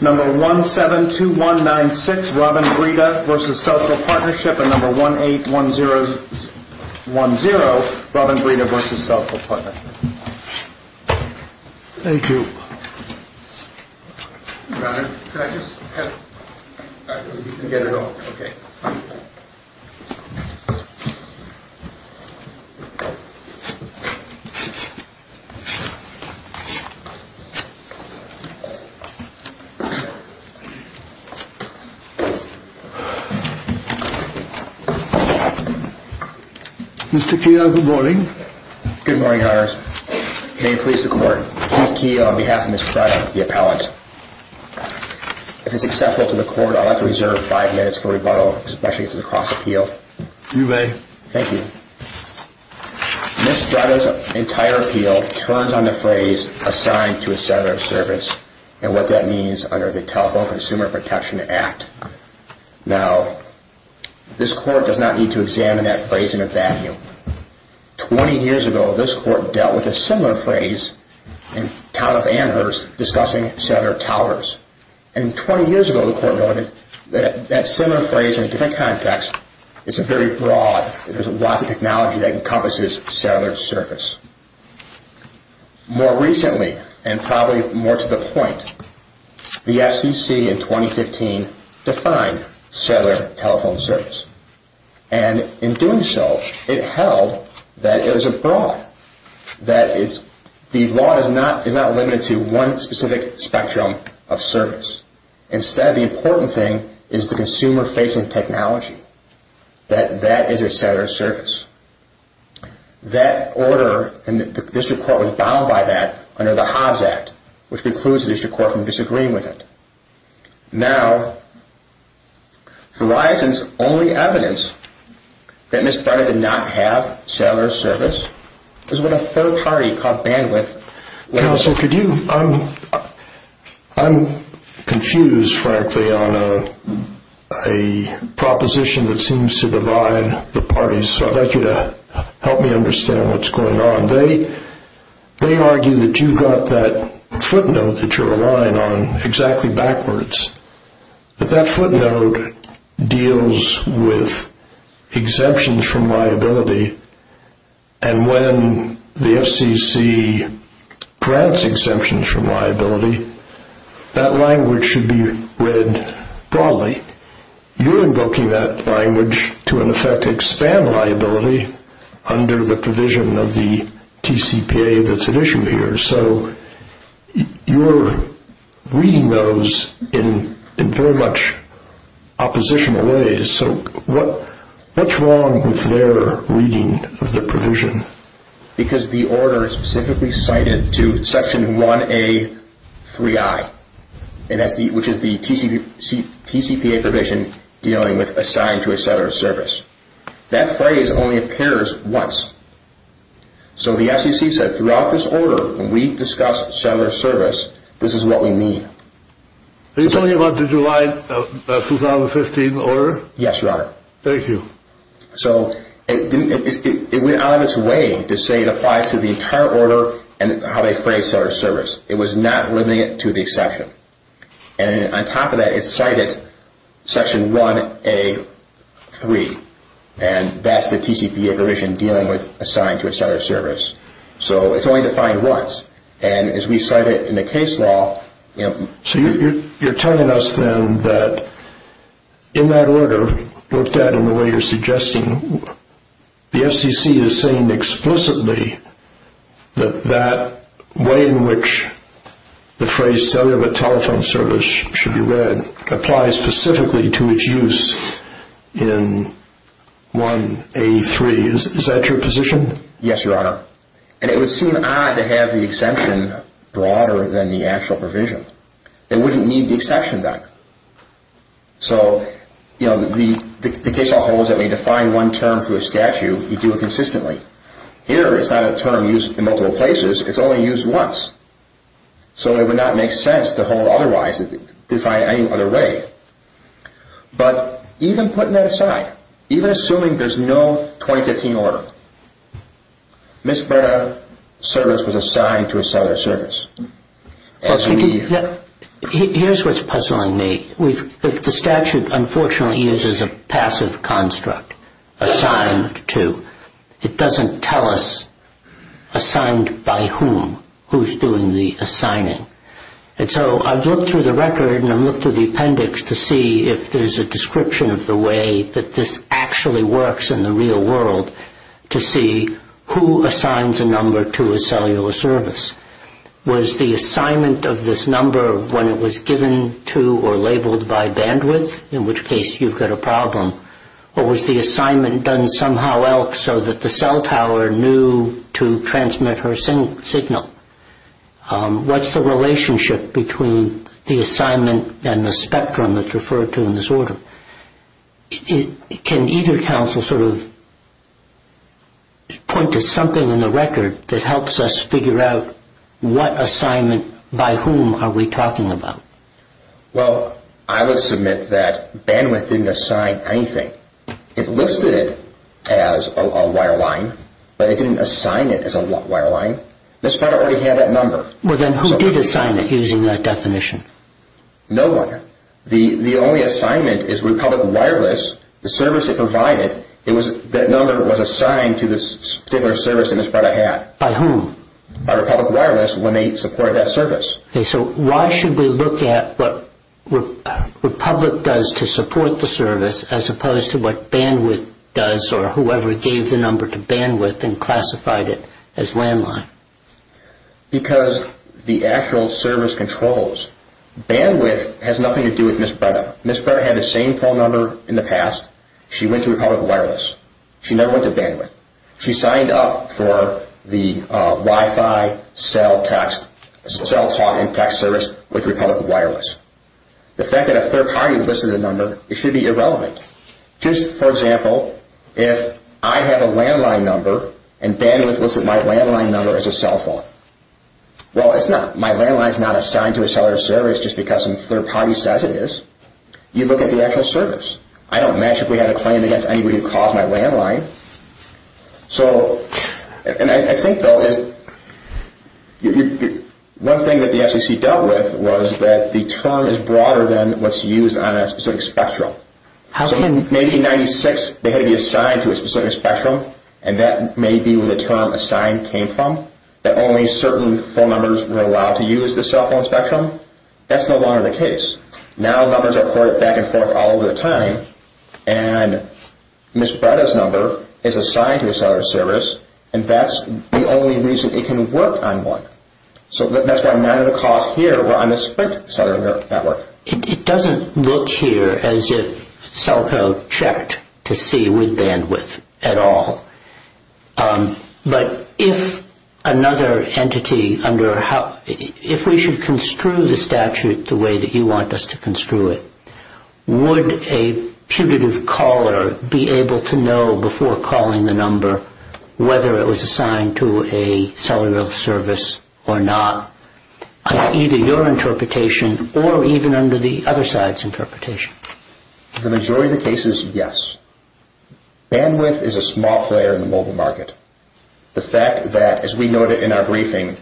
Number 172196 Robin Breda v. Cellco Partnership and Number 1810 Robin Breda v. Cellco Partnership Thank you. Mr. Keogh, good morning. Good morning, Honors. May it please the Court, Keith Keogh on behalf of Ms. Breda, the appellant. If it's acceptable to the Court, I'll have to reserve five minutes for rebuttal, especially if it's a cross-appeal. You may. Thank you. Ms. Breda's entire appeal turns on the phrase, assigned to a settler of service, and what that means under the Telephone Consumer Protection Act. Now, this Court does not need to examine that phrase in a vacuum. Twenty years ago, this Court dealt with a similar phrase in Town of Amherst discussing settler towers. And 20 years ago, the Court noted that that similar phrase in a different context is a very broad, there's lots of technology that encompasses settler service. More recently, and probably more to the point, the FCC in 2015 defined settler telephone service. And in doing so, it held that it was a broad, that the law is not limited to one specific spectrum of service. Instead, the important thing is the consumer-facing technology, that that is a settler of service. That order, and the District Court was bound by that under the Hobbs Act, which precludes the District Court from disagreeing with it. Now, Verizon's only evidence that Ms. Pryor did not have settler service is when a third party called Bandwidth... Counsel, could you, I'm confused, frankly, on a proposition that seems to divide the parties, so I'd like you to help me understand what's going on. They argue that you've got that footnote that you're relying on exactly backwards, but that footnote deals with exemptions from liability, and when the FCC grants exemptions from liability, that language should be read broadly. You're invoking that language to, in effect, expand liability under the provision of the TCPA that's at issue here, so you're reading those in very much oppositional ways, so what's wrong with their reading of the provision? Because the order is specifically cited to Section 1A.3i, which is the TCPA provision dealing with assigned to a settler of service. That phrase only appears once, so the FCC said throughout this order, when we discuss settler service, this is what we mean. Are you talking about the July 2015 order? Yes, Your Honor. Thank you. So it went out of its way to say it applies to the entire order and how they phrase settler service. It was not limited to the exception, and on top of that, it's cited Section 1A.3, and that's the TCPA provision dealing with assigned to a settler of service, so it's only defined once, and as we cite it in the case law. So you're telling us then that in that order, looked at in the way you're suggesting, the FCC is saying explicitly that that way in which the phrase settler of a telephone service should be read applies specifically to its use in 1A.3. Is that your position? Yes, Your Honor, and it would seem odd to have the exemption broader than the actual provision. It wouldn't need the exception then. So the case law holds that when you define one term for a statute, you do it consistently. Here, it's not a term used in multiple places. It's only used once. So it would not make sense to hold it otherwise, to define it any other way. But even putting that aside, even assuming there's no 2015 order, Ms. Berta's service was assigned to a settler of service. Here's what's puzzling me. The statute, unfortunately, uses a passive construct, assigned to. It doesn't tell us assigned by whom, who's doing the assigning. And so I've looked through the record and I've looked through the appendix to see if there's a description of the way that this actually works in the real world to see who assigns a number to a cellular service. Was the assignment of this number when it was given to or labeled by bandwidth, in which case you've got a problem, or was the assignment done somehow else so that the cell tower knew to transmit her signal? What's the relationship between the assignment and the spectrum that's referred to in this order? Can either counsel sort of point to something in the record that helps us figure out what assignment by whom are we talking about? Well, I would submit that bandwidth didn't assign anything. It listed it as a wireline, but it didn't assign it as a wireline. Ms. Berta already had that number. Well, then who did assign it using that definition? No one. The only assignment is Republic Wireless, the service it provided. That number was assigned to the settler of service that Ms. Berta had. By whom? By Republic Wireless when they supported that service. Okay. So why should we look at what Republic does to support the service as opposed to what bandwidth does or whoever gave the number to bandwidth and classified it as landline? Because the actual service controls. Bandwidth has nothing to do with Ms. Berta. Ms. Berta had the same phone number in the past. She went to Republic Wireless. She never went to bandwidth. She signed up for the Wi-Fi cell talk and text service with Republic Wireless. The fact that a third party listed the number, it should be irrelevant. Just for example, if I have a landline number and bandwidth listed my landline number as a cell phone, well, my landline is not assigned to a seller of service just because some third party says it is. You look at the actual service. I don't magically have a claim against anybody who calls my landline. So, and I think though, one thing that the FCC dealt with was that the term is broader than what's used on a specific spectrum. So maybe in 96 they had to be assigned to a specific spectrum and that may be where the term assigned came from, that only certain phone numbers were allowed to use the cell phone spectrum. That's no longer the case. Now numbers are ported back and forth all over the time and Ms. Berta's number is assigned to a seller of service and that's the only reason it can work on one. So that's why none of the calls here were on the strict seller of network. It doesn't look here as if Celco checked to see with bandwidth at all. But if another entity, if we should construe the statute the way that you want us to construe it, would a putative caller be able to know before calling the number whether it was assigned to a seller of service or not, either your interpretation or even under the other side's interpretation? The majority of the cases, yes. Bandwidth is a small player in the mobile market. The fact that, as we noted in our briefing,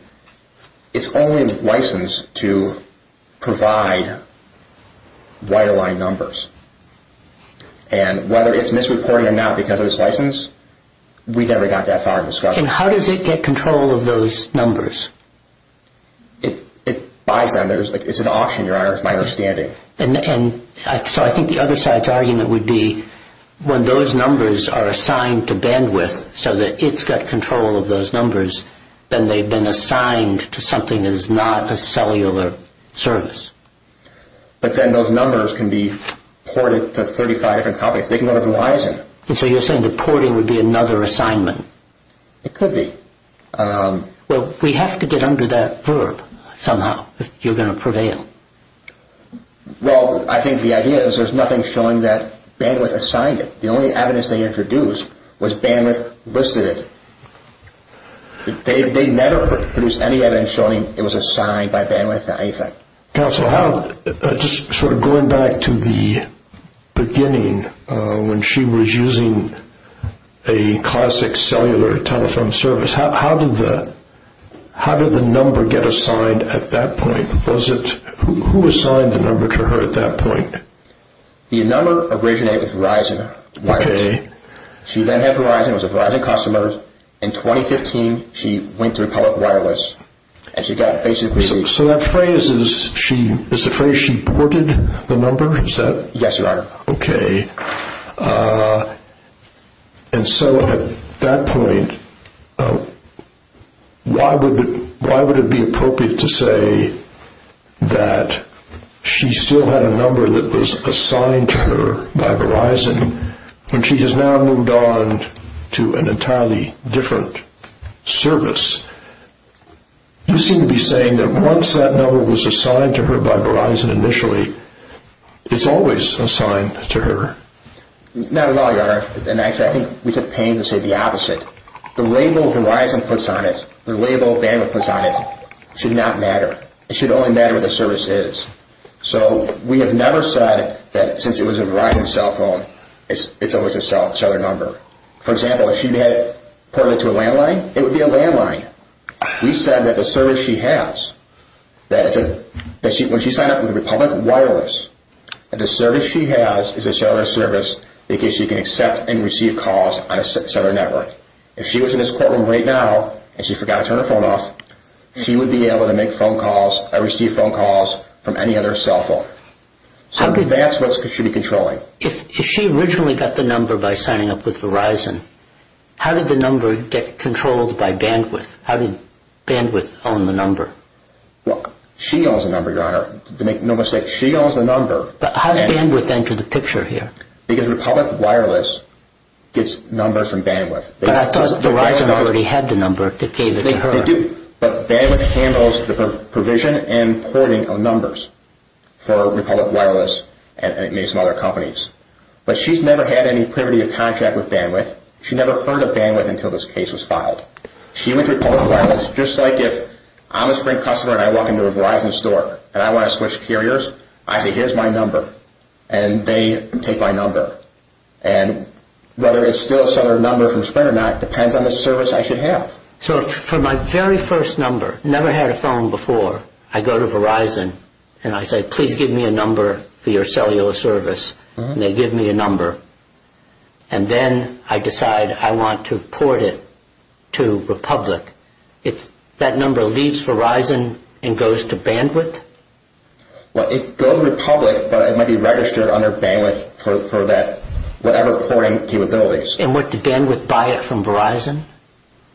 it's only licensed to provide wireline numbers. And whether it's misreported or not because of its license, we never got that far of a discovery. And how does it get control of those numbers? It buys them. It's an auction, Your Honor, is my understanding. So I think the other side's argument would be when those numbers are assigned to bandwidth so that it's got control of those numbers, then they've been assigned to something that is not a cellular service. But then those numbers can be ported to 35 different companies. They can go to Verizon. So you're saying that porting would be another assignment? It could be. Well, we have to get under that verb somehow if you're going to prevail. Well, I think the idea is there's nothing showing that bandwidth assigned it. The only evidence they introduced was bandwidth listed it. They never produced any evidence showing it was assigned by bandwidth to anything. Counsel, just sort of going back to the beginning when she was using a classic cellular telephone service, how did the number get assigned at that point? Who assigned the number to her at that point? The number originated with Verizon. Okay. She then had Verizon. It was a Verizon customer. In 2015, she went through public wireless. So that phrase is the phrase she ported the number? Is that? Yes, Your Honor. Okay. And so at that point, why would it be appropriate to say that she still had a number that was assigned to her by Verizon when she has now moved on to an entirely different service? You seem to be saying that once that number was assigned to her by Verizon initially, it's always assigned to her. Not at all, Your Honor. And actually, I think we took pains to say the opposite. The label Verizon puts on it, the label bandwidth puts on it, should not matter. It should only matter what the service is. So we have never said that since it was a Verizon cell phone, it's always a cellular number. For example, if she had ported it to a landline, it would be a landline. We said that the service she has, when she signed up with Republic Wireless, that the service she has is a cellular service because she can accept and receive calls on a cellular network. If she was in this courtroom right now and she forgot to turn her phone off, she would be able to make phone calls or receive phone calls from any other cell phone. So that's what she should be controlling. If she originally got the number by signing up with Verizon, how did the number get controlled by bandwidth? How did bandwidth own the number? She owns the number, Your Honor. Make no mistake, she owns the number. But how does bandwidth enter the picture here? Because Republic Wireless gets numbers from bandwidth. But I thought Verizon already had the number that gave it to her. They do, but bandwidth handles the provision and porting of numbers for Republic Wireless and maybe some other companies. But she's never had any privity of contract with bandwidth. She never heard of bandwidth until this case was filed. She went to Republic Wireless, just like if I'm a Sprint customer and I walk into a Verizon store and I want to switch carriers, I say, here's my number. And they take my number. And whether it's still a cellular number from Sprint or not depends on the service I should have. So for my very first number, never had a phone before, I go to Verizon and I say, please give me a number for your cellular service. And they give me a number. And then I decide I want to port it to Republic. That number leaves Verizon and goes to bandwidth? Well, it goes to Republic, but it might be registered under bandwidth for whatever porting capabilities. And what, did bandwidth buy it from Verizon?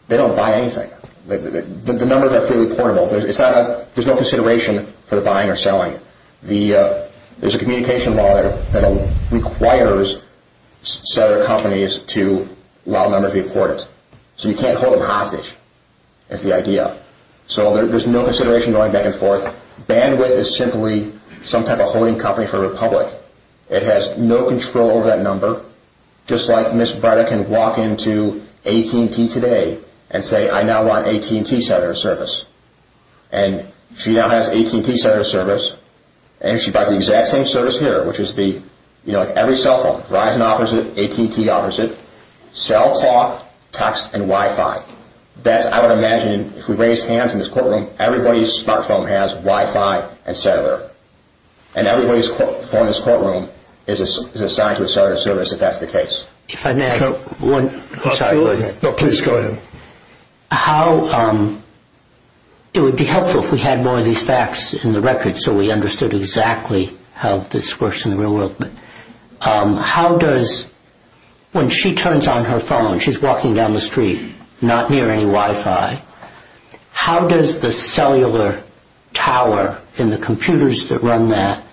They don't buy anything. The numbers are fully portable. There's no consideration for the buying or selling. There's a communication law that requires cellular companies to allow numbers to be ported. So you can't hold them hostage. That's the idea. So there's no consideration going back and forth. Bandwidth is simply some type of holding company for Republic. It has no control over that number. Just like Ms. Breda can walk into AT&T today and say, I now want AT&T cellular service. And she now has AT&T cellular service. And she buys the exact same service here, which is the, you know, like every cell phone. Verizon offers it. AT&T offers it. Cell, talk, text, and Wi-Fi. That's, I would imagine, if we raise hands in this courtroom, everybody's smartphone has Wi-Fi and cellular. And everybody's phone in this courtroom is assigned to a cellular service, if that's the case. If I may, I'm sorry, go ahead. No, please go ahead. How, it would be helpful if we had more of these facts in the record so we understood exactly how this works in the real world. How does, when she turns on her phone, she's walking down the street, not near any Wi-Fi, how does the cellular tower and the computers that run that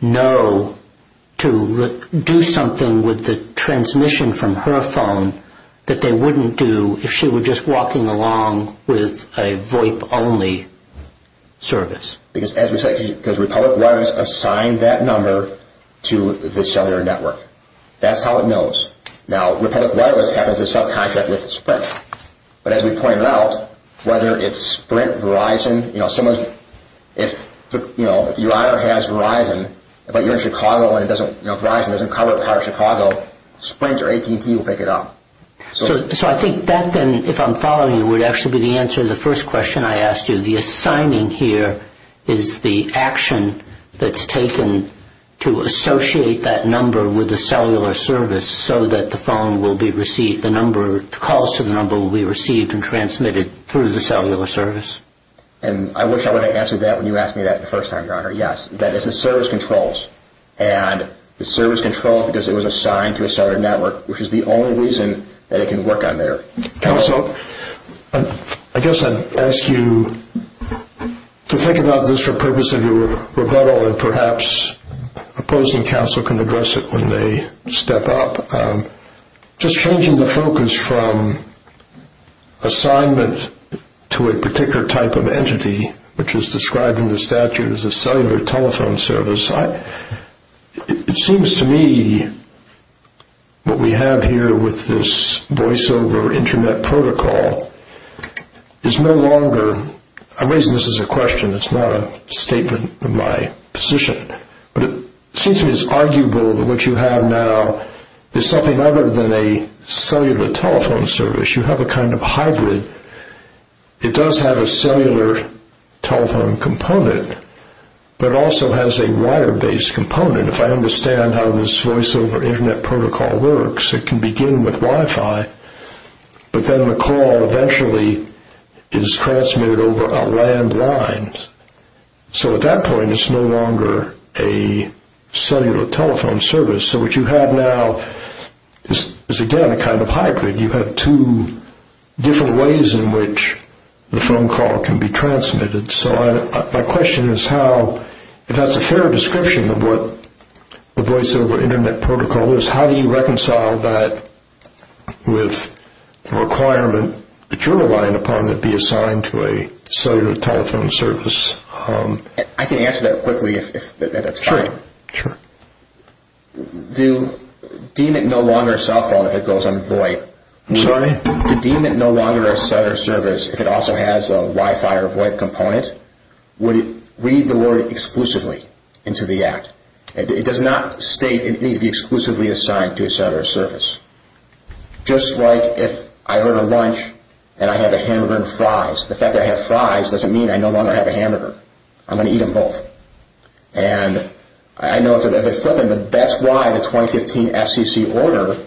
know to do something with the transmission from her phone that they wouldn't do if she were just walking along with a VoIP-only service? Because as we said, because Republic Wireless assigned that number to the cellular network. That's how it knows. Now, Republic Wireless has a subcontract with Sprint. But as we pointed out, whether it's Sprint, Verizon, you know, if you either have Verizon, but you're in Chicago and Verizon doesn't cover part of Chicago, Sprint or AT&T will pick it up. So I think that then, if I'm following you, would actually be the answer to the first question I asked you. The assigning here is the action that's taken to associate that number with the cellular service so that the phone will be received, the number, the calls to the number will be received and transmitted through the cellular service. And I wish I would have answered that when you asked me that the first time, Your Honor. Yes, that is the service controls. And the service controls because it was assigned to a cellular network, which is the only reason that it can work on there. Counsel, I guess I'd ask you to think about this for the purpose of your rebuttal and perhaps opposing counsel can address it when they step up. Just changing the focus from assignment to a particular type of entity, which is described in the statute as a cellular telephone service, it seems to me what we have here with this voiceover Internet protocol is no longer – but it seems to me it's arguable that what you have now is something other than a cellular telephone service. You have a kind of hybrid. It does have a cellular telephone component, but it also has a wire-based component. If I understand how this voiceover Internet protocol works, it can begin with Wi-Fi, but then the call eventually is transmitted over a landline. So at that point, it's no longer a cellular telephone service. So what you have now is, again, a kind of hybrid. You have two different ways in which the phone call can be transmitted. So my question is how – if that's a fair description of what the voiceover Internet protocol is, how do you reconcile that with the requirement that you're relying upon to be assigned to a cellular telephone service? I can answer that quickly if that's fine. Sure. Do you deem it no longer a cell phone if it goes on VoIP? Sorry? Do you deem it no longer a cellular service if it also has a Wi-Fi or VoIP component? Would it read the word exclusively into the Act? It does not state it needs to be exclusively assigned to a cellular service. Just like if I order lunch and I have a hamburger and fries, the fact that I have fries doesn't mean I no longer have a hamburger. I'm going to eat them both. And I know it's a bit flippant, but that's why the 2015 FCC order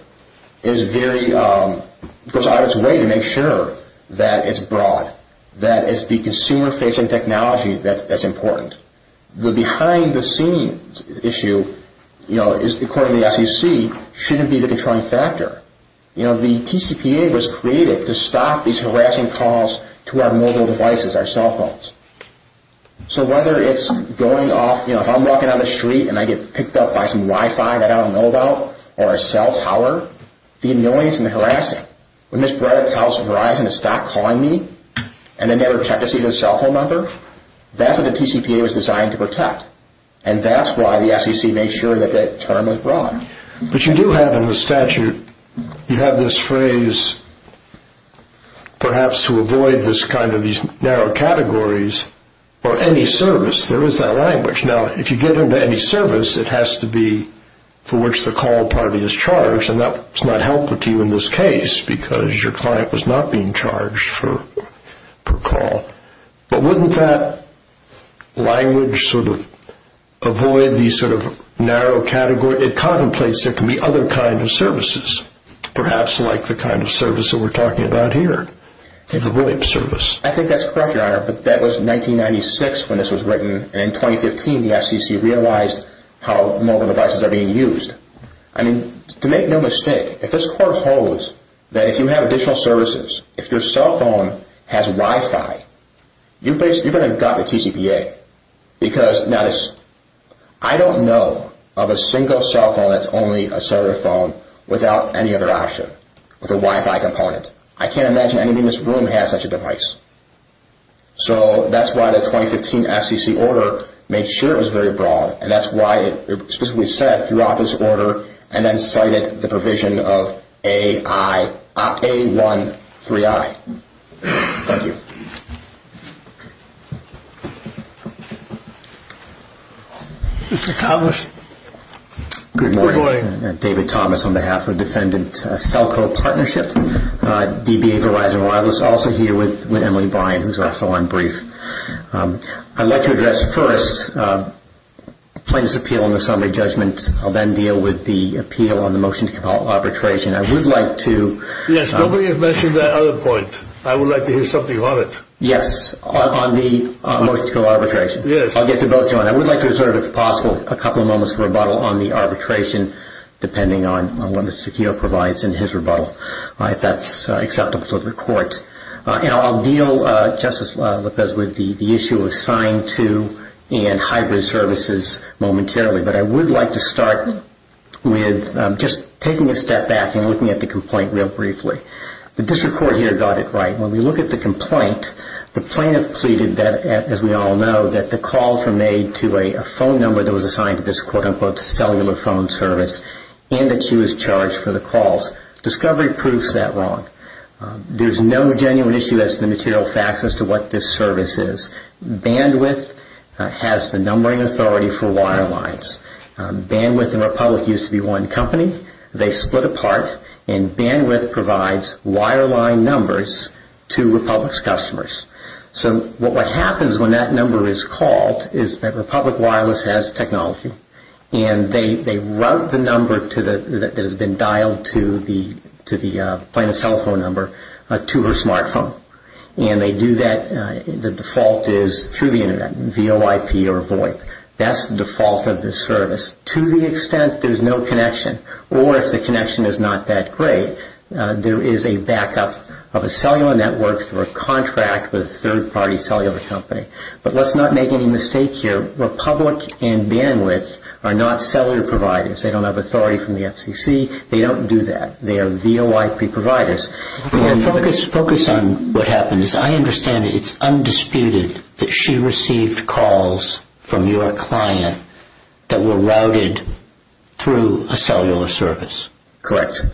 goes out of its way to make sure that it's broad, that it's the consumer-facing technology that's important. The behind-the-scenes issue, according to the FCC, shouldn't be the controlling factor. The TCPA was created to stop these harassing calls to our mobile devices, our cell phones. So whether it's going off, if I'm walking down the street and I get picked up by some Wi-Fi that I don't know about, or a cell tower, the annoyance and the harassing, when this brat tells Verizon to stop calling me and they never check to see the cell phone number, that's what the TCPA was designed to protect. And that's why the FCC made sure that that term was broad. But you do have in the statute, you have this phrase, perhaps to avoid this kind of these narrow categories, or any service, there is that language. Now, if you get into any service, it has to be for which the call party is charged, and that's not helpful to you in this case because your client was not being charged per call. But wouldn't that language sort of avoid these sort of narrow categories? It contemplates there can be other kinds of services, perhaps like the kind of service that we're talking about here, the VoIP service. I think that's correct, Your Honor, but that was 1996 when this was written, and in 2015 the FCC realized how mobile devices are being used. I mean, to make no mistake, if this court holds that if you have additional services, if your cell phone has Wi-Fi, you're going to have got the TCPA. Because now this, I don't know of a single cell phone that's only a cellular phone without any other option, with a Wi-Fi component. I can't imagine anything in this room has such a device. So that's why the 2015 FCC order made sure it was very broad, and that's why it specifically said, through office order, and then cited the provision of A-1-3-I. Thank you. Mr. Thomas. Good morning. David Thomas on behalf of Defendant Cellco Partnership, DBA Verizon Wireless, also here with Emily Bryan, who's also on brief. I'd like to address first plaintiff's appeal and the summary judgment. I'll then deal with the appeal on the motion to compel arbitration. I would like to – Yes, nobody has mentioned that other point. I would like to hear something on it. Yes, on the motion to compel arbitration. Yes. I'll get to both, Your Honor. I would like to reserve, if possible, a couple of moments of rebuttal on the arbitration, depending on what Mr. Keough provides in his rebuttal, if that's acceptable to the court. And I'll deal, Justice LaPez, with the issue of assigned to and hybrid services momentarily. But I would like to start with just taking a step back and looking at the complaint real briefly. The district court here got it right. When we look at the complaint, the plaintiff pleaded that, as we all know, that the call from an aide to a phone number that was assigned to this quote-unquote cellular phone service and that she was charged for the calls. Discovery proves that wrong. There's no genuine issue as to the material facts as to what this service is. Bandwidth has the numbering authority for wirelines. Bandwidth and Republic used to be one company. They split apart, and Bandwidth provides wireline numbers to Republic's customers. So what happens when that number is called is that Republic Wireless has technology, and they route the number that has been dialed to the plaintiff's telephone number to her smartphone. And they do that. The default is through the Internet, VoIP or VoIP. That's the default of this service to the extent there's no connection. Or if the connection is not that great, there is a backup of a cellular network through a contract with a third-party cellular company. But let's not make any mistake here. Republic and Bandwidth are not cellular providers. They don't have authority from the FCC. They don't do that. They are VoIP providers. Focus on what happened. I understand it's undisputed that she received calls from your client that were routed through a cellular service. Correct.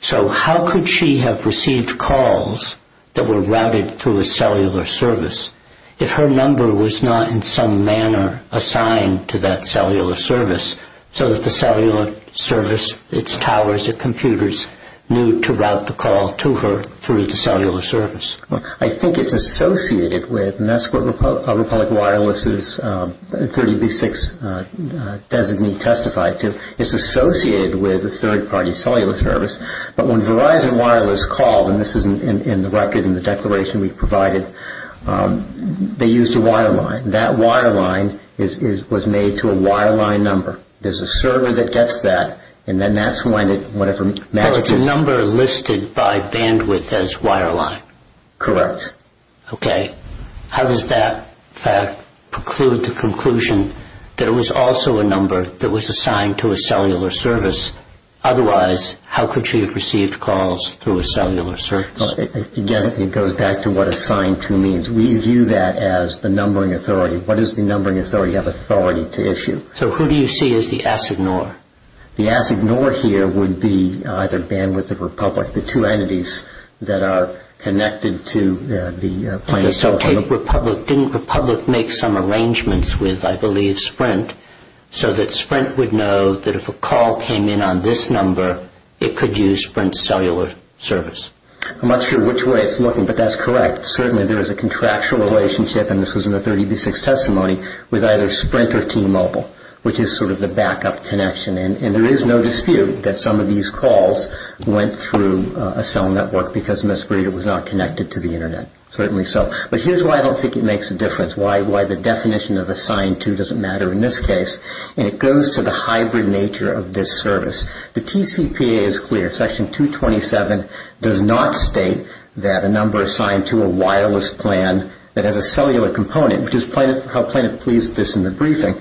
So how could she have received calls that were routed through a cellular service if her number was not in some manner assigned to that cellular service so that the cellular service, its towers, its computers knew to route the call to her through the cellular service? I think it's associated with, and that's what Republic Wireless's 30B6 designee testified to, it's associated with a third-party cellular service. But when Verizon Wireless called, and this is in the record in the declaration we provided, they used a wireline. That wireline was made to a wireline number. There's a server that gets that, and then that's when it, whatever matches it. So it's a number listed by Bandwidth as wireline. Correct. Okay. How does that fact preclude the conclusion that it was also a number that was assigned to a cellular service? Otherwise, how could she have received calls through a cellular service? Again, it goes back to what assigned to means. We view that as the numbering authority. What does the numbering authority have authority to issue? So who do you see as the assignor? The assignor here would be either Bandwidth or Republic, the two entities that are connected to the plaintiff's telephone. Didn't Republic make some arrangements with, I believe, Sprint, so that Sprint would know that if a call came in on this number, it could use Sprint's cellular service? I'm not sure which way it's looking, but that's correct. Certainly there is a contractual relationship, and this was in the 30B6 testimony, with either Sprint or T-Mobile, which is sort of the backup connection. And there is no dispute that some of these calls went through a cell network because Ms. Breeder was not connected to the Internet. Certainly so. But here's why I don't think it makes a difference. Why the definition of assigned to doesn't matter in this case, and it goes to the hybrid nature of this service. The TCPA is clear. Section 227 does not state that a number assigned to a wireless plan that has a cellular component, which is how plaintiff pleads this in the briefing,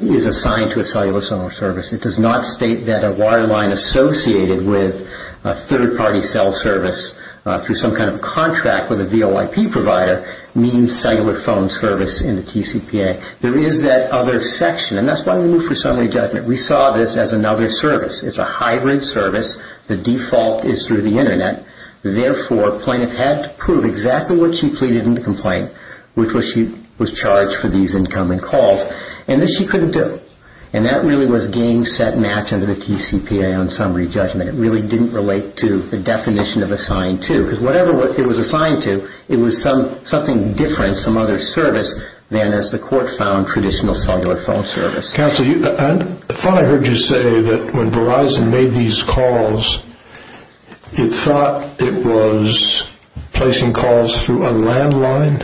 is assigned to a cellular service. It does not state that a wireline associated with a third-party cell service through some kind of contract with a VOIP provider means cellular phone service in the TCPA. There is that other section, and that's why we moved for summary judgment. We saw this as another service. It's a hybrid service. The default is through the Internet. Therefore, plaintiff had to prove exactly what she pleaded in the complaint, which was she was charged for these incoming calls, and this she couldn't do. And that really was game, set, match under the TCPA on summary judgment. It really didn't relate to the definition of assigned to, because whatever it was assigned to, it was something different, some other service, than as the court found traditional cellular phone service. Counsel, I thought I heard you say that when Verizon made these calls, it thought it was placing calls through a landline.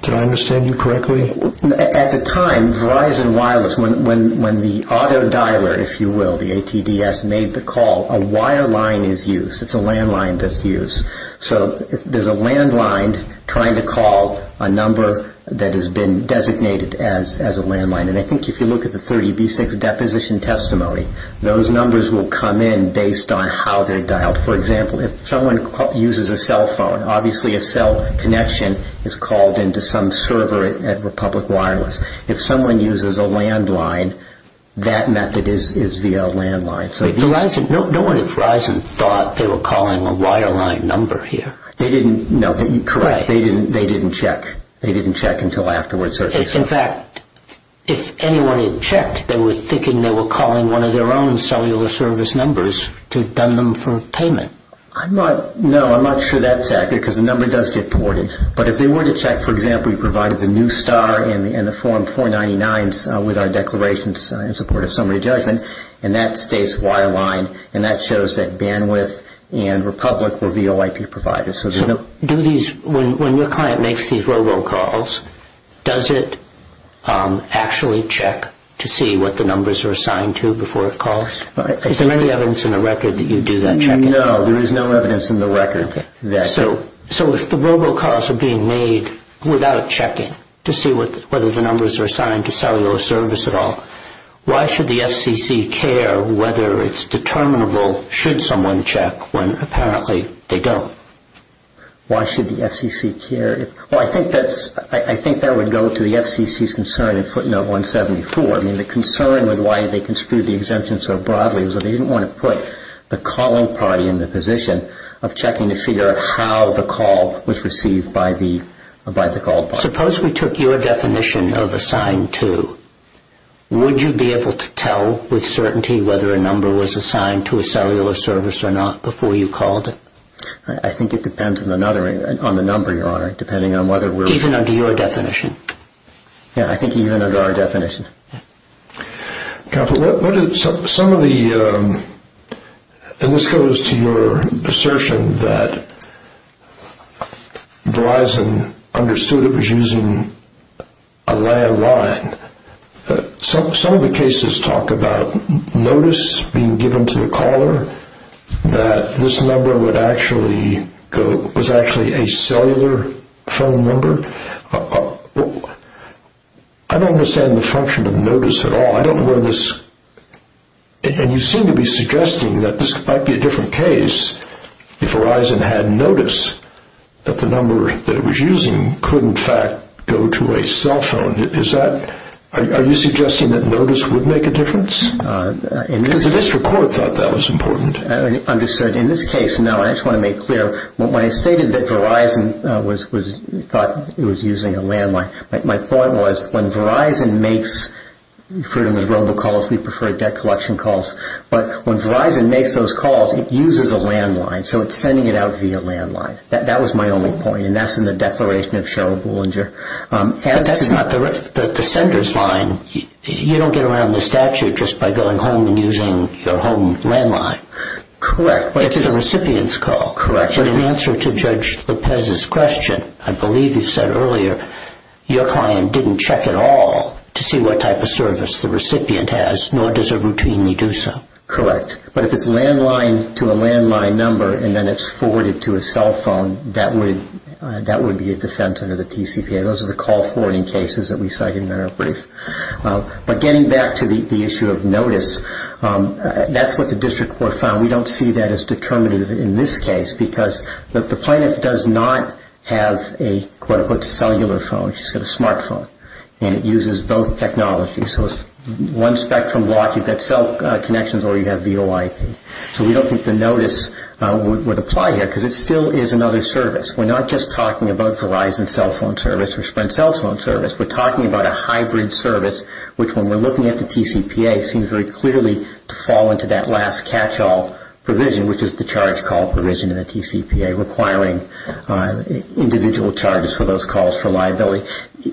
Did I understand you correctly? At the time, Verizon Wireless, when the auto dialer, if you will, the ATDS, made the call, a wireline is used. It's a landline that's used. So there's a landline trying to call a number that has been designated as a landline. And I think if you look at the 30B6 deposition testimony, those numbers will come in based on how they're dialed. For example, if someone uses a cell phone, obviously a cell connection is called into some server at Republic Wireless. If someone uses a landline, that method is via a landline. No one at Verizon thought they were calling a wireline number here. No, correct. They didn't check. They didn't check until afterwards. In fact, if anyone had checked, they were thinking they were calling one of their own cellular service numbers to have done them for payment. No, I'm not sure that's accurate because the number does get ported. But if they were to check, for example, you provided the new star in the form 499 with our declarations in support of summary judgment, and that stays wirelined, and that shows that bandwidth and Republic were VOIP providers. So when your client makes these robo calls, does it actually check to see what the numbers are assigned to before it calls? Is there any evidence in the record that you do that checking? No, there is no evidence in the record. So if the robo calls are being made without checking to see whether the numbers are assigned to cellular service at all, why should the FCC care whether it's determinable should someone check when apparently they don't? Why should the FCC care? Well, I think that would go to the FCC's concern in footnote 174. I mean, the concern with why they construed the exemption so broadly was that they didn't want to put the calling party in the position of checking to see how the call was received by the called party. Suppose we took your definition of assigned to. Would you be able to tell with certainty whether a number was assigned to a cellular service or not before you called it? I think it depends on the number, Your Honor, depending on whether we're... Even under your definition? Yeah, I think even under our definition. Counsel, what did some of the... And this goes to your assertion that Gleisen understood it was using a landline. Some of the cases talk about notice being given to the caller that this number would actually go... was actually a cellular phone number. I don't understand the function of notice at all. I don't know where this... And you seem to be suggesting that this might be a different case if Verizon had notice that the number that it was using could, in fact, go to a cell phone. Is that... Are you suggesting that notice would make a difference? Because the district court thought that was important. Understood. In this case, now, I just want to make clear. When I stated that Verizon thought it was using a landline, my point was when Verizon makes... You've heard of those robocalls. We prefer debt collection calls. But when Verizon makes those calls, it uses a landline. So it's sending it out via landline. That was my only point, and that's in the declaration of Sheryl Bullinger. But that's not the... The sender's line, you don't get around the statute just by going home and using your home landline. Correct. It's the recipient's call. Correct. But in answer to Judge Lopez's question, I believe you said earlier your client didn't check at all to see what type of service the recipient has, nor does it routinely do so. Correct. But if it's landline to a landline number and then it's forwarded to a cell phone, that would be a defense under the TCPA. Those are the call forwarding cases that we cited in our brief. But getting back to the issue of notice, that's what the district court found. We don't see that as determinative in this case because the plaintiff does not have a, quote-unquote, cellular phone. She's got a smartphone, and it uses both technologies. So it's one spectrum lock. You've got cell connections or you have VoIP. So we don't think the notice would apply here because it still is another service. We're not just talking about Verizon cell phone service or Sprint cell phone service. We're talking about a hybrid service, which when we're looking at the TCPA, it seems very clearly to fall into that last catch-all provision, which is the charge call provision in the TCPA, requiring individual charges for those calls for liability.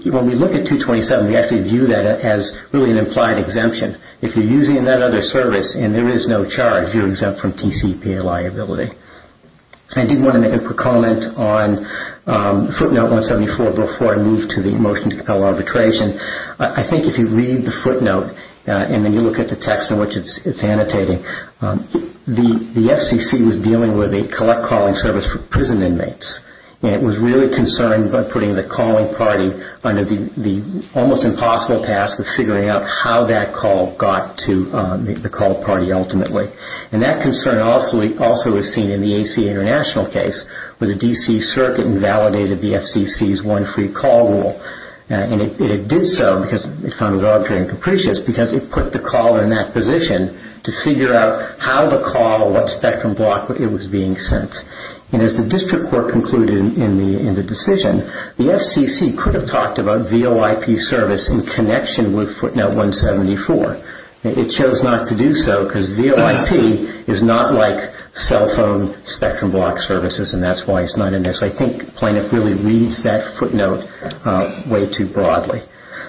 When we look at 227, we actually view that as really an implied exemption. If you're using another service and there is no charge, you're exempt from TCPA liability. I did want to make a quick comment on footnote 174 before I move to the motion to compel arbitration. I think if you read the footnote and then you look at the text in which it's annotating, the FCC was dealing with a collect-calling service for prison inmates, and it was really concerned by putting the calling party under the almost impossible task of figuring out how that call got to the call party ultimately. And that concern also is seen in the ACA International case, where the D.C. Circuit invalidated the FCC's one-free-call rule. And it did so because it found it arbitrary and capricious because it put the caller in that position to figure out how the call, what spectrum block it was being sent. And as the district court concluded in the decision, the FCC could have talked about VOIP service in connection with footnote 174. It chose not to do so because VOIP is not like cell phone spectrum block services, and that's why it's not in there. So I think plaintiff really reads that footnote way too broadly.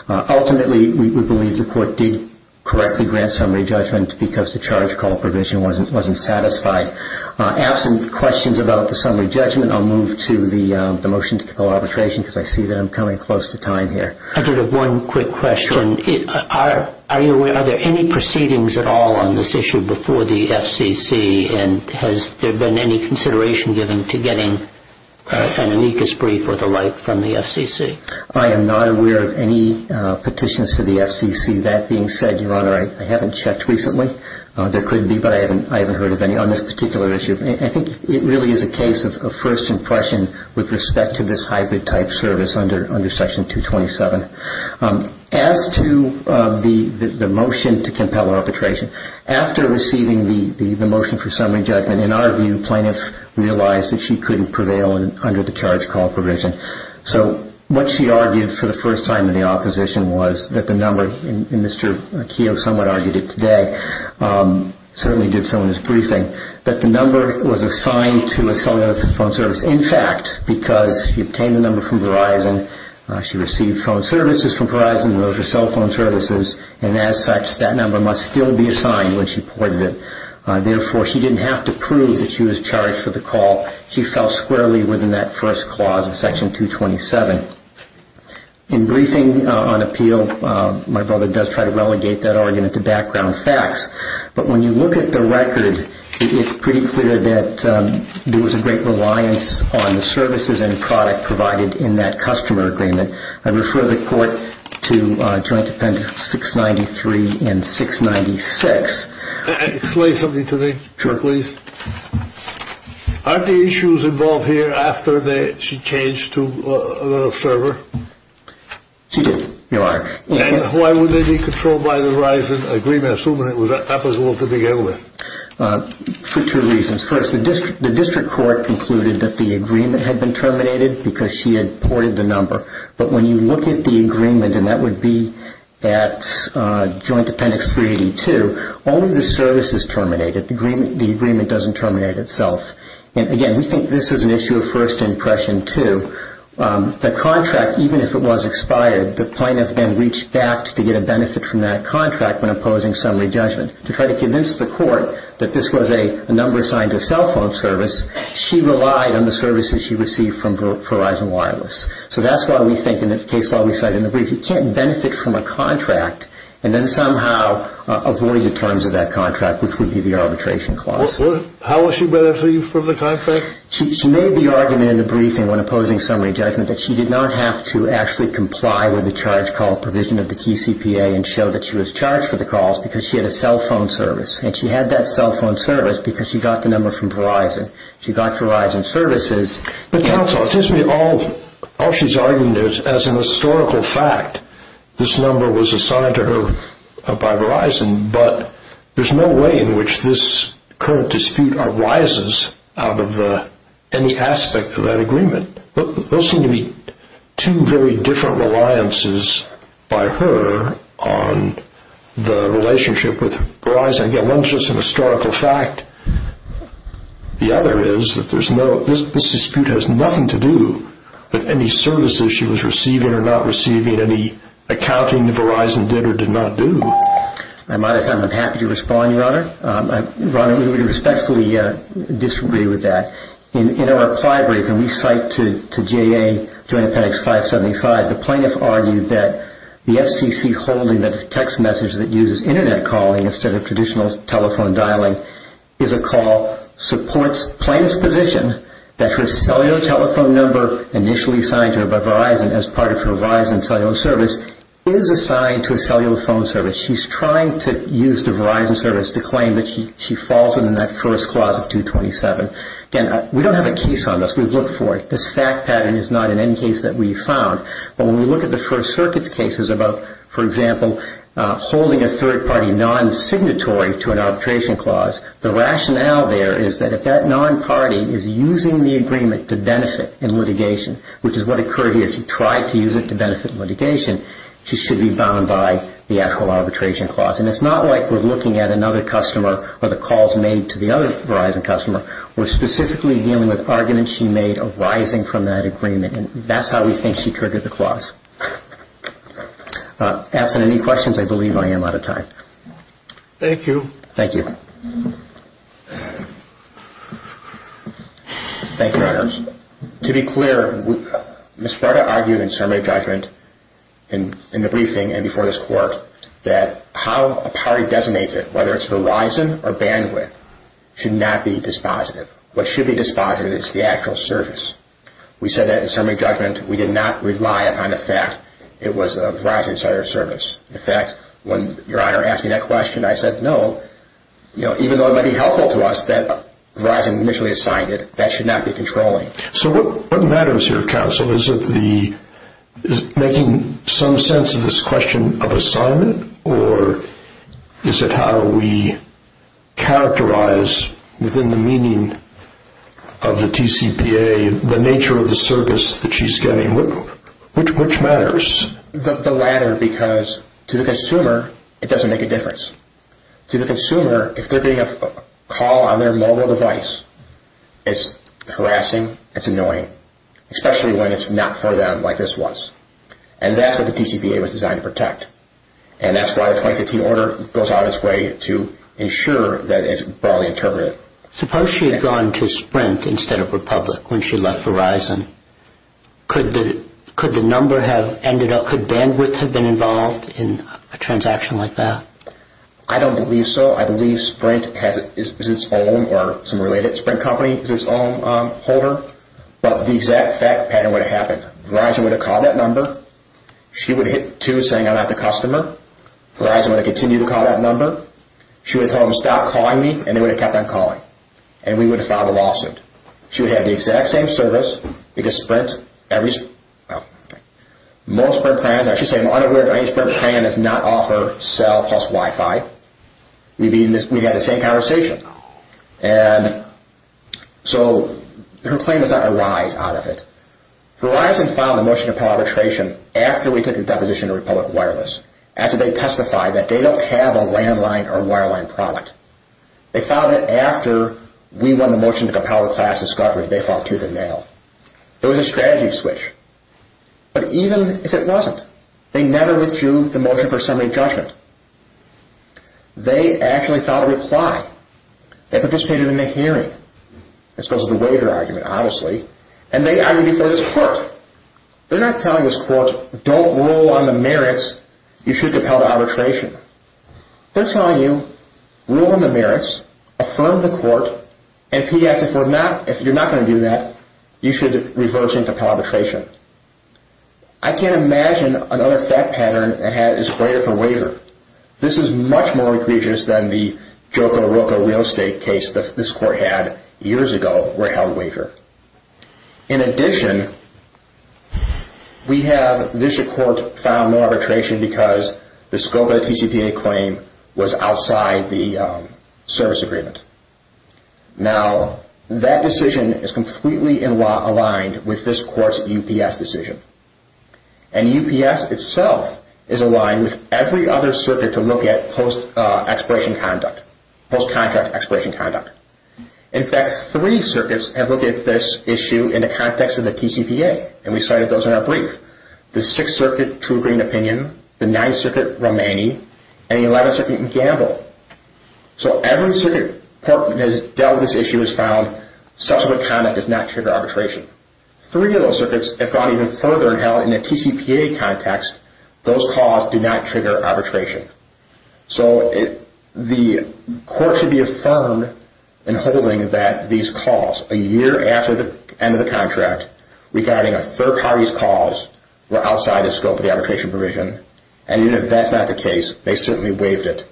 Ultimately, we believe the court did correctly grant summary judgment because the charge-call provision wasn't satisfied. Absent questions about the summary judgment, I'll move to the motion to compel arbitration because I see that I'm coming close to time here. I did have one quick question. Are you aware, are there any proceedings at all on this issue before the FCC, and has there been any consideration given to getting an amicus brief or the like from the FCC? I am not aware of any petitions to the FCC. That being said, Your Honor, I haven't checked recently. There could be, but I haven't heard of any on this particular issue. I think it really is a case of first impression with respect to this hybrid type service under Section 227. As to the motion to compel arbitration, after receiving the motion for summary judgment, in our view plaintiff realized that she couldn't prevail under the charge-call provision. So what she argued for the first time in the opposition was that the number, and Mr. Keogh somewhat argued it today, certainly did so in his briefing, that the number was assigned to a cellular phone service. In fact, because she obtained the number from Verizon, she received phone services from Verizon, and those were cell phone services, and as such, that number must still be assigned when she pointed it. Therefore, she didn't have to prove that she was charged for the call. She fell squarely within that first clause of Section 227. In briefing on appeal, my brother does try to relegate that argument to background facts, but when you look at the record, it's pretty clear that there was a great reliance on the services and product provided in that customer agreement. I refer the Court to Joint Dependents 693 and 696. Can I explain something to me? Sure, please. Aren't the issues involved here after she changed to a server? She did, Your Honor. And why would they be controlled by the Verizon agreement, assuming that was the big element? For two reasons. First, the district court concluded that the agreement had been terminated because she had ported the number, but when you look at the agreement, and that would be at Joint Appendix 382, only the service is terminated. The agreement doesn't terminate itself. And again, we think this is an issue of first impression, too. The contract, even if it was expired, the plaintiff then reached back to get a benefit from that contract when opposing summary judgment. To try to convince the court that this was a number assigned to a cell phone service, she relied on the services she received from Verizon Wireless. So that's why we think in the case law we cite in the brief, you can't benefit from a contract and then somehow avoid the terms of that contract, which would be the arbitration clause. How was she benefited from the contract? She made the argument in the briefing when opposing summary judgment that she did not have to actually comply with the charge call provision of the TCPA and show that she was charged for the calls because she had a cell phone service. And she had that cell phone service because she got the number from Verizon. She got Verizon services. But counsel, it seems to me all she's arguing is as a historical fact, this number was assigned to her by Verizon, but there's no way in which this current dispute arises out of any aspect of that agreement. Those seem to be two very different reliances by her on the relationship with Verizon. Again, one is just a historical fact. The other is that this dispute has nothing to do with any services she was receiving or not receiving, any accounting that Verizon did or did not do. I might have sounded unhappy to respond, Your Honor. Ron, we would respectfully disagree with that. In our pliability, when we cite to JA Joint Appendix 575, the plaintiff argued that the FCC holding the text message that uses Internet calling instead of traditional telephone dialing is a call, supports plaintiff's position that her cellular telephone number initially assigned to her by Verizon as part of her Verizon cellular service is assigned to a cellular phone service. She's trying to use the Verizon service to claim that she falls within that first clause of 227. Again, we don't have a case on this. We've looked for it. This fact pattern is not in any case that we've found. But when we look at the First Circuit's cases about, for example, holding a third party non-signatory to an arbitration clause, the rationale there is that if that non-party is using the agreement to benefit in litigation, which is what occurred here. She tried to use it to benefit litigation. She should be bound by the actual arbitration clause. And it's not like we're looking at another customer or the calls made to the other Verizon customer. We're specifically dealing with arguments she made arising from that agreement. And that's how we think she triggered the clause. Absent any questions, I believe I am out of time. Thank you. Thank you. Thank you, Your Honors. To be clear, Ms. Prada argued in summary of judgment in the briefing and before this court that how a party designates it, whether it's Verizon or bandwidth, should not be dispositive. What should be dispositive is the actual service. We said that in summary of judgment. We did not rely on the fact it was a Verizon service. In fact, when Your Honor asked me that question, I said no. Even though it might be helpful to us that Verizon initially assigned it, that should not be controlling. So what matters here, counsel, is making some sense of this question of assignment or is it how we characterize within the meaning of the TCPA the nature of the service that she's getting? Which matters? The latter because to the consumer, it doesn't make a difference. To the consumer, if they're getting a call on their mobile device, it's harassing, it's annoying, especially when it's not for them like this was. And that's what the TCPA was designed to protect. And that's why the 2015 order goes out of its way to ensure that it's broadly interpreted. Suppose she had gone to Sprint instead of Republic when she left Verizon. Could the number have ended up, could bandwidth have been involved in a transaction like that? I don't believe so. I believe Sprint is its own or some related Sprint company is its own holder. But the exact fact pattern would have happened. Verizon would have called that number. She would have hit two saying I'm not the customer. Verizon would have continued to call that number. She would have told them to stop calling me and they would have kept on calling. And we would have filed a lawsuit. She would have the exact same service because Sprint, most Sprint plans, I should say I'm unaware if any Sprint plan does not offer cell plus Wi-Fi. We'd have the same conversation. And so her claim is that there are lies out of it. Verizon filed a motion to compel arbitration after we took the deposition to Republic Wireless, after they testified that they don't have a landline or wireline product. They filed it after we won the motion to compel a class discovery and they filed tooth and nail. There was a strategy switch. But even if it wasn't, they never withdrew the motion for assembly judgment. They actually filed a reply. They participated in the hearing as opposed to the waiver argument, obviously. And they argued before this court. They're not telling this court don't rule on the merits, you should compel arbitration. They're telling you rule on the merits, affirm the court, and P.S. if you're not going to do that, you should reverse and compel arbitration. I can't imagine another fact pattern that is greater for waiver. This is much more egregious than the Joka-Roka real estate case that this court had years ago where it held waiver. In addition, we have the district court file no arbitration because the scope of the TCPA claim was outside the service agreement. Now, that decision is completely aligned with this court's UPS decision. And UPS itself is aligned with every other circuit to look at post-expiration conduct, post-contract expiration conduct. In fact, three circuits have looked at this issue in the context of the TCPA, and we cited those in our brief. The Sixth Circuit True Green Opinion, the Ninth Circuit Romani, and the Eleventh Circuit Gamble. So every circuit that has dealt with this issue has found subsequent conduct does not trigger arbitration. Three of those circuits have gone even further and held in a TCPA context, those calls do not trigger arbitration. So the court should be affirmed in holding that these calls a year after the end of the contract regarding a third party's calls were outside the scope of the arbitration provision. And even if that's not the case, they certainly waived it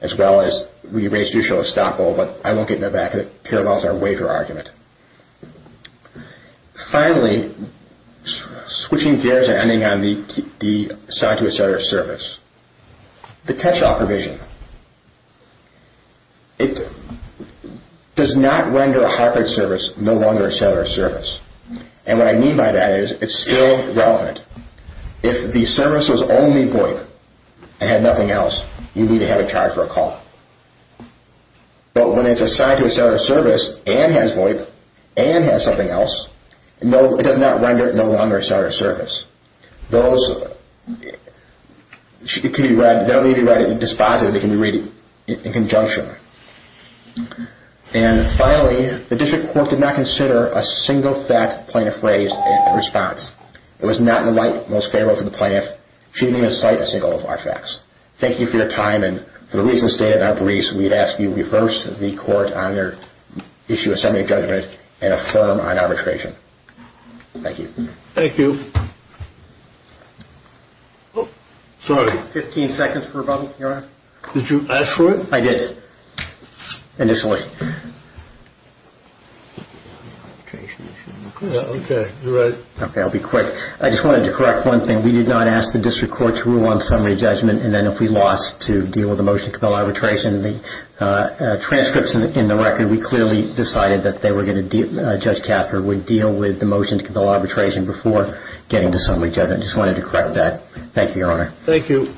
as well as we raised usual estoppel, but I won't get into that because it parallels our waiver argument. Finally, switching gears and ending on the sign to a seller service. The catch-all provision. It does not render a hard-card service no longer a seller service. And what I mean by that is it's still relevant. If the service was only VOIP and had nothing else, you need to have a charge for a call. But when it's assigned to a seller service and has VOIP and has something else, it does not render it no longer a seller service. Those can be read, they don't need to be read in dispositive, they can be read in conjunction. And finally, the district court did not consider a single fact plaintiff raised in response. It was not in the light most favorable to the plaintiff. She didn't even cite a single of our facts. Thank you for your time, and for the reasons stated in our briefs, we'd ask you to reverse the court on your issue of subject judgment and affirm on arbitration. Thank you. Thank you. Sorry. Fifteen seconds for a bubble, Your Honor. Did you ask for it? I did, initially. Okay, you're right. Okay, I'll be quick. I just wanted to correct one thing. We did not ask the district court to rule on summary judgment, and then if we lost to deal with the motion to compel arbitration, the transcripts in the record, we clearly decided that Judge Cather would deal with the motion to compel arbitration before getting to summary judgment. I just wanted to correct that. Thank you, Your Honor. Thank you.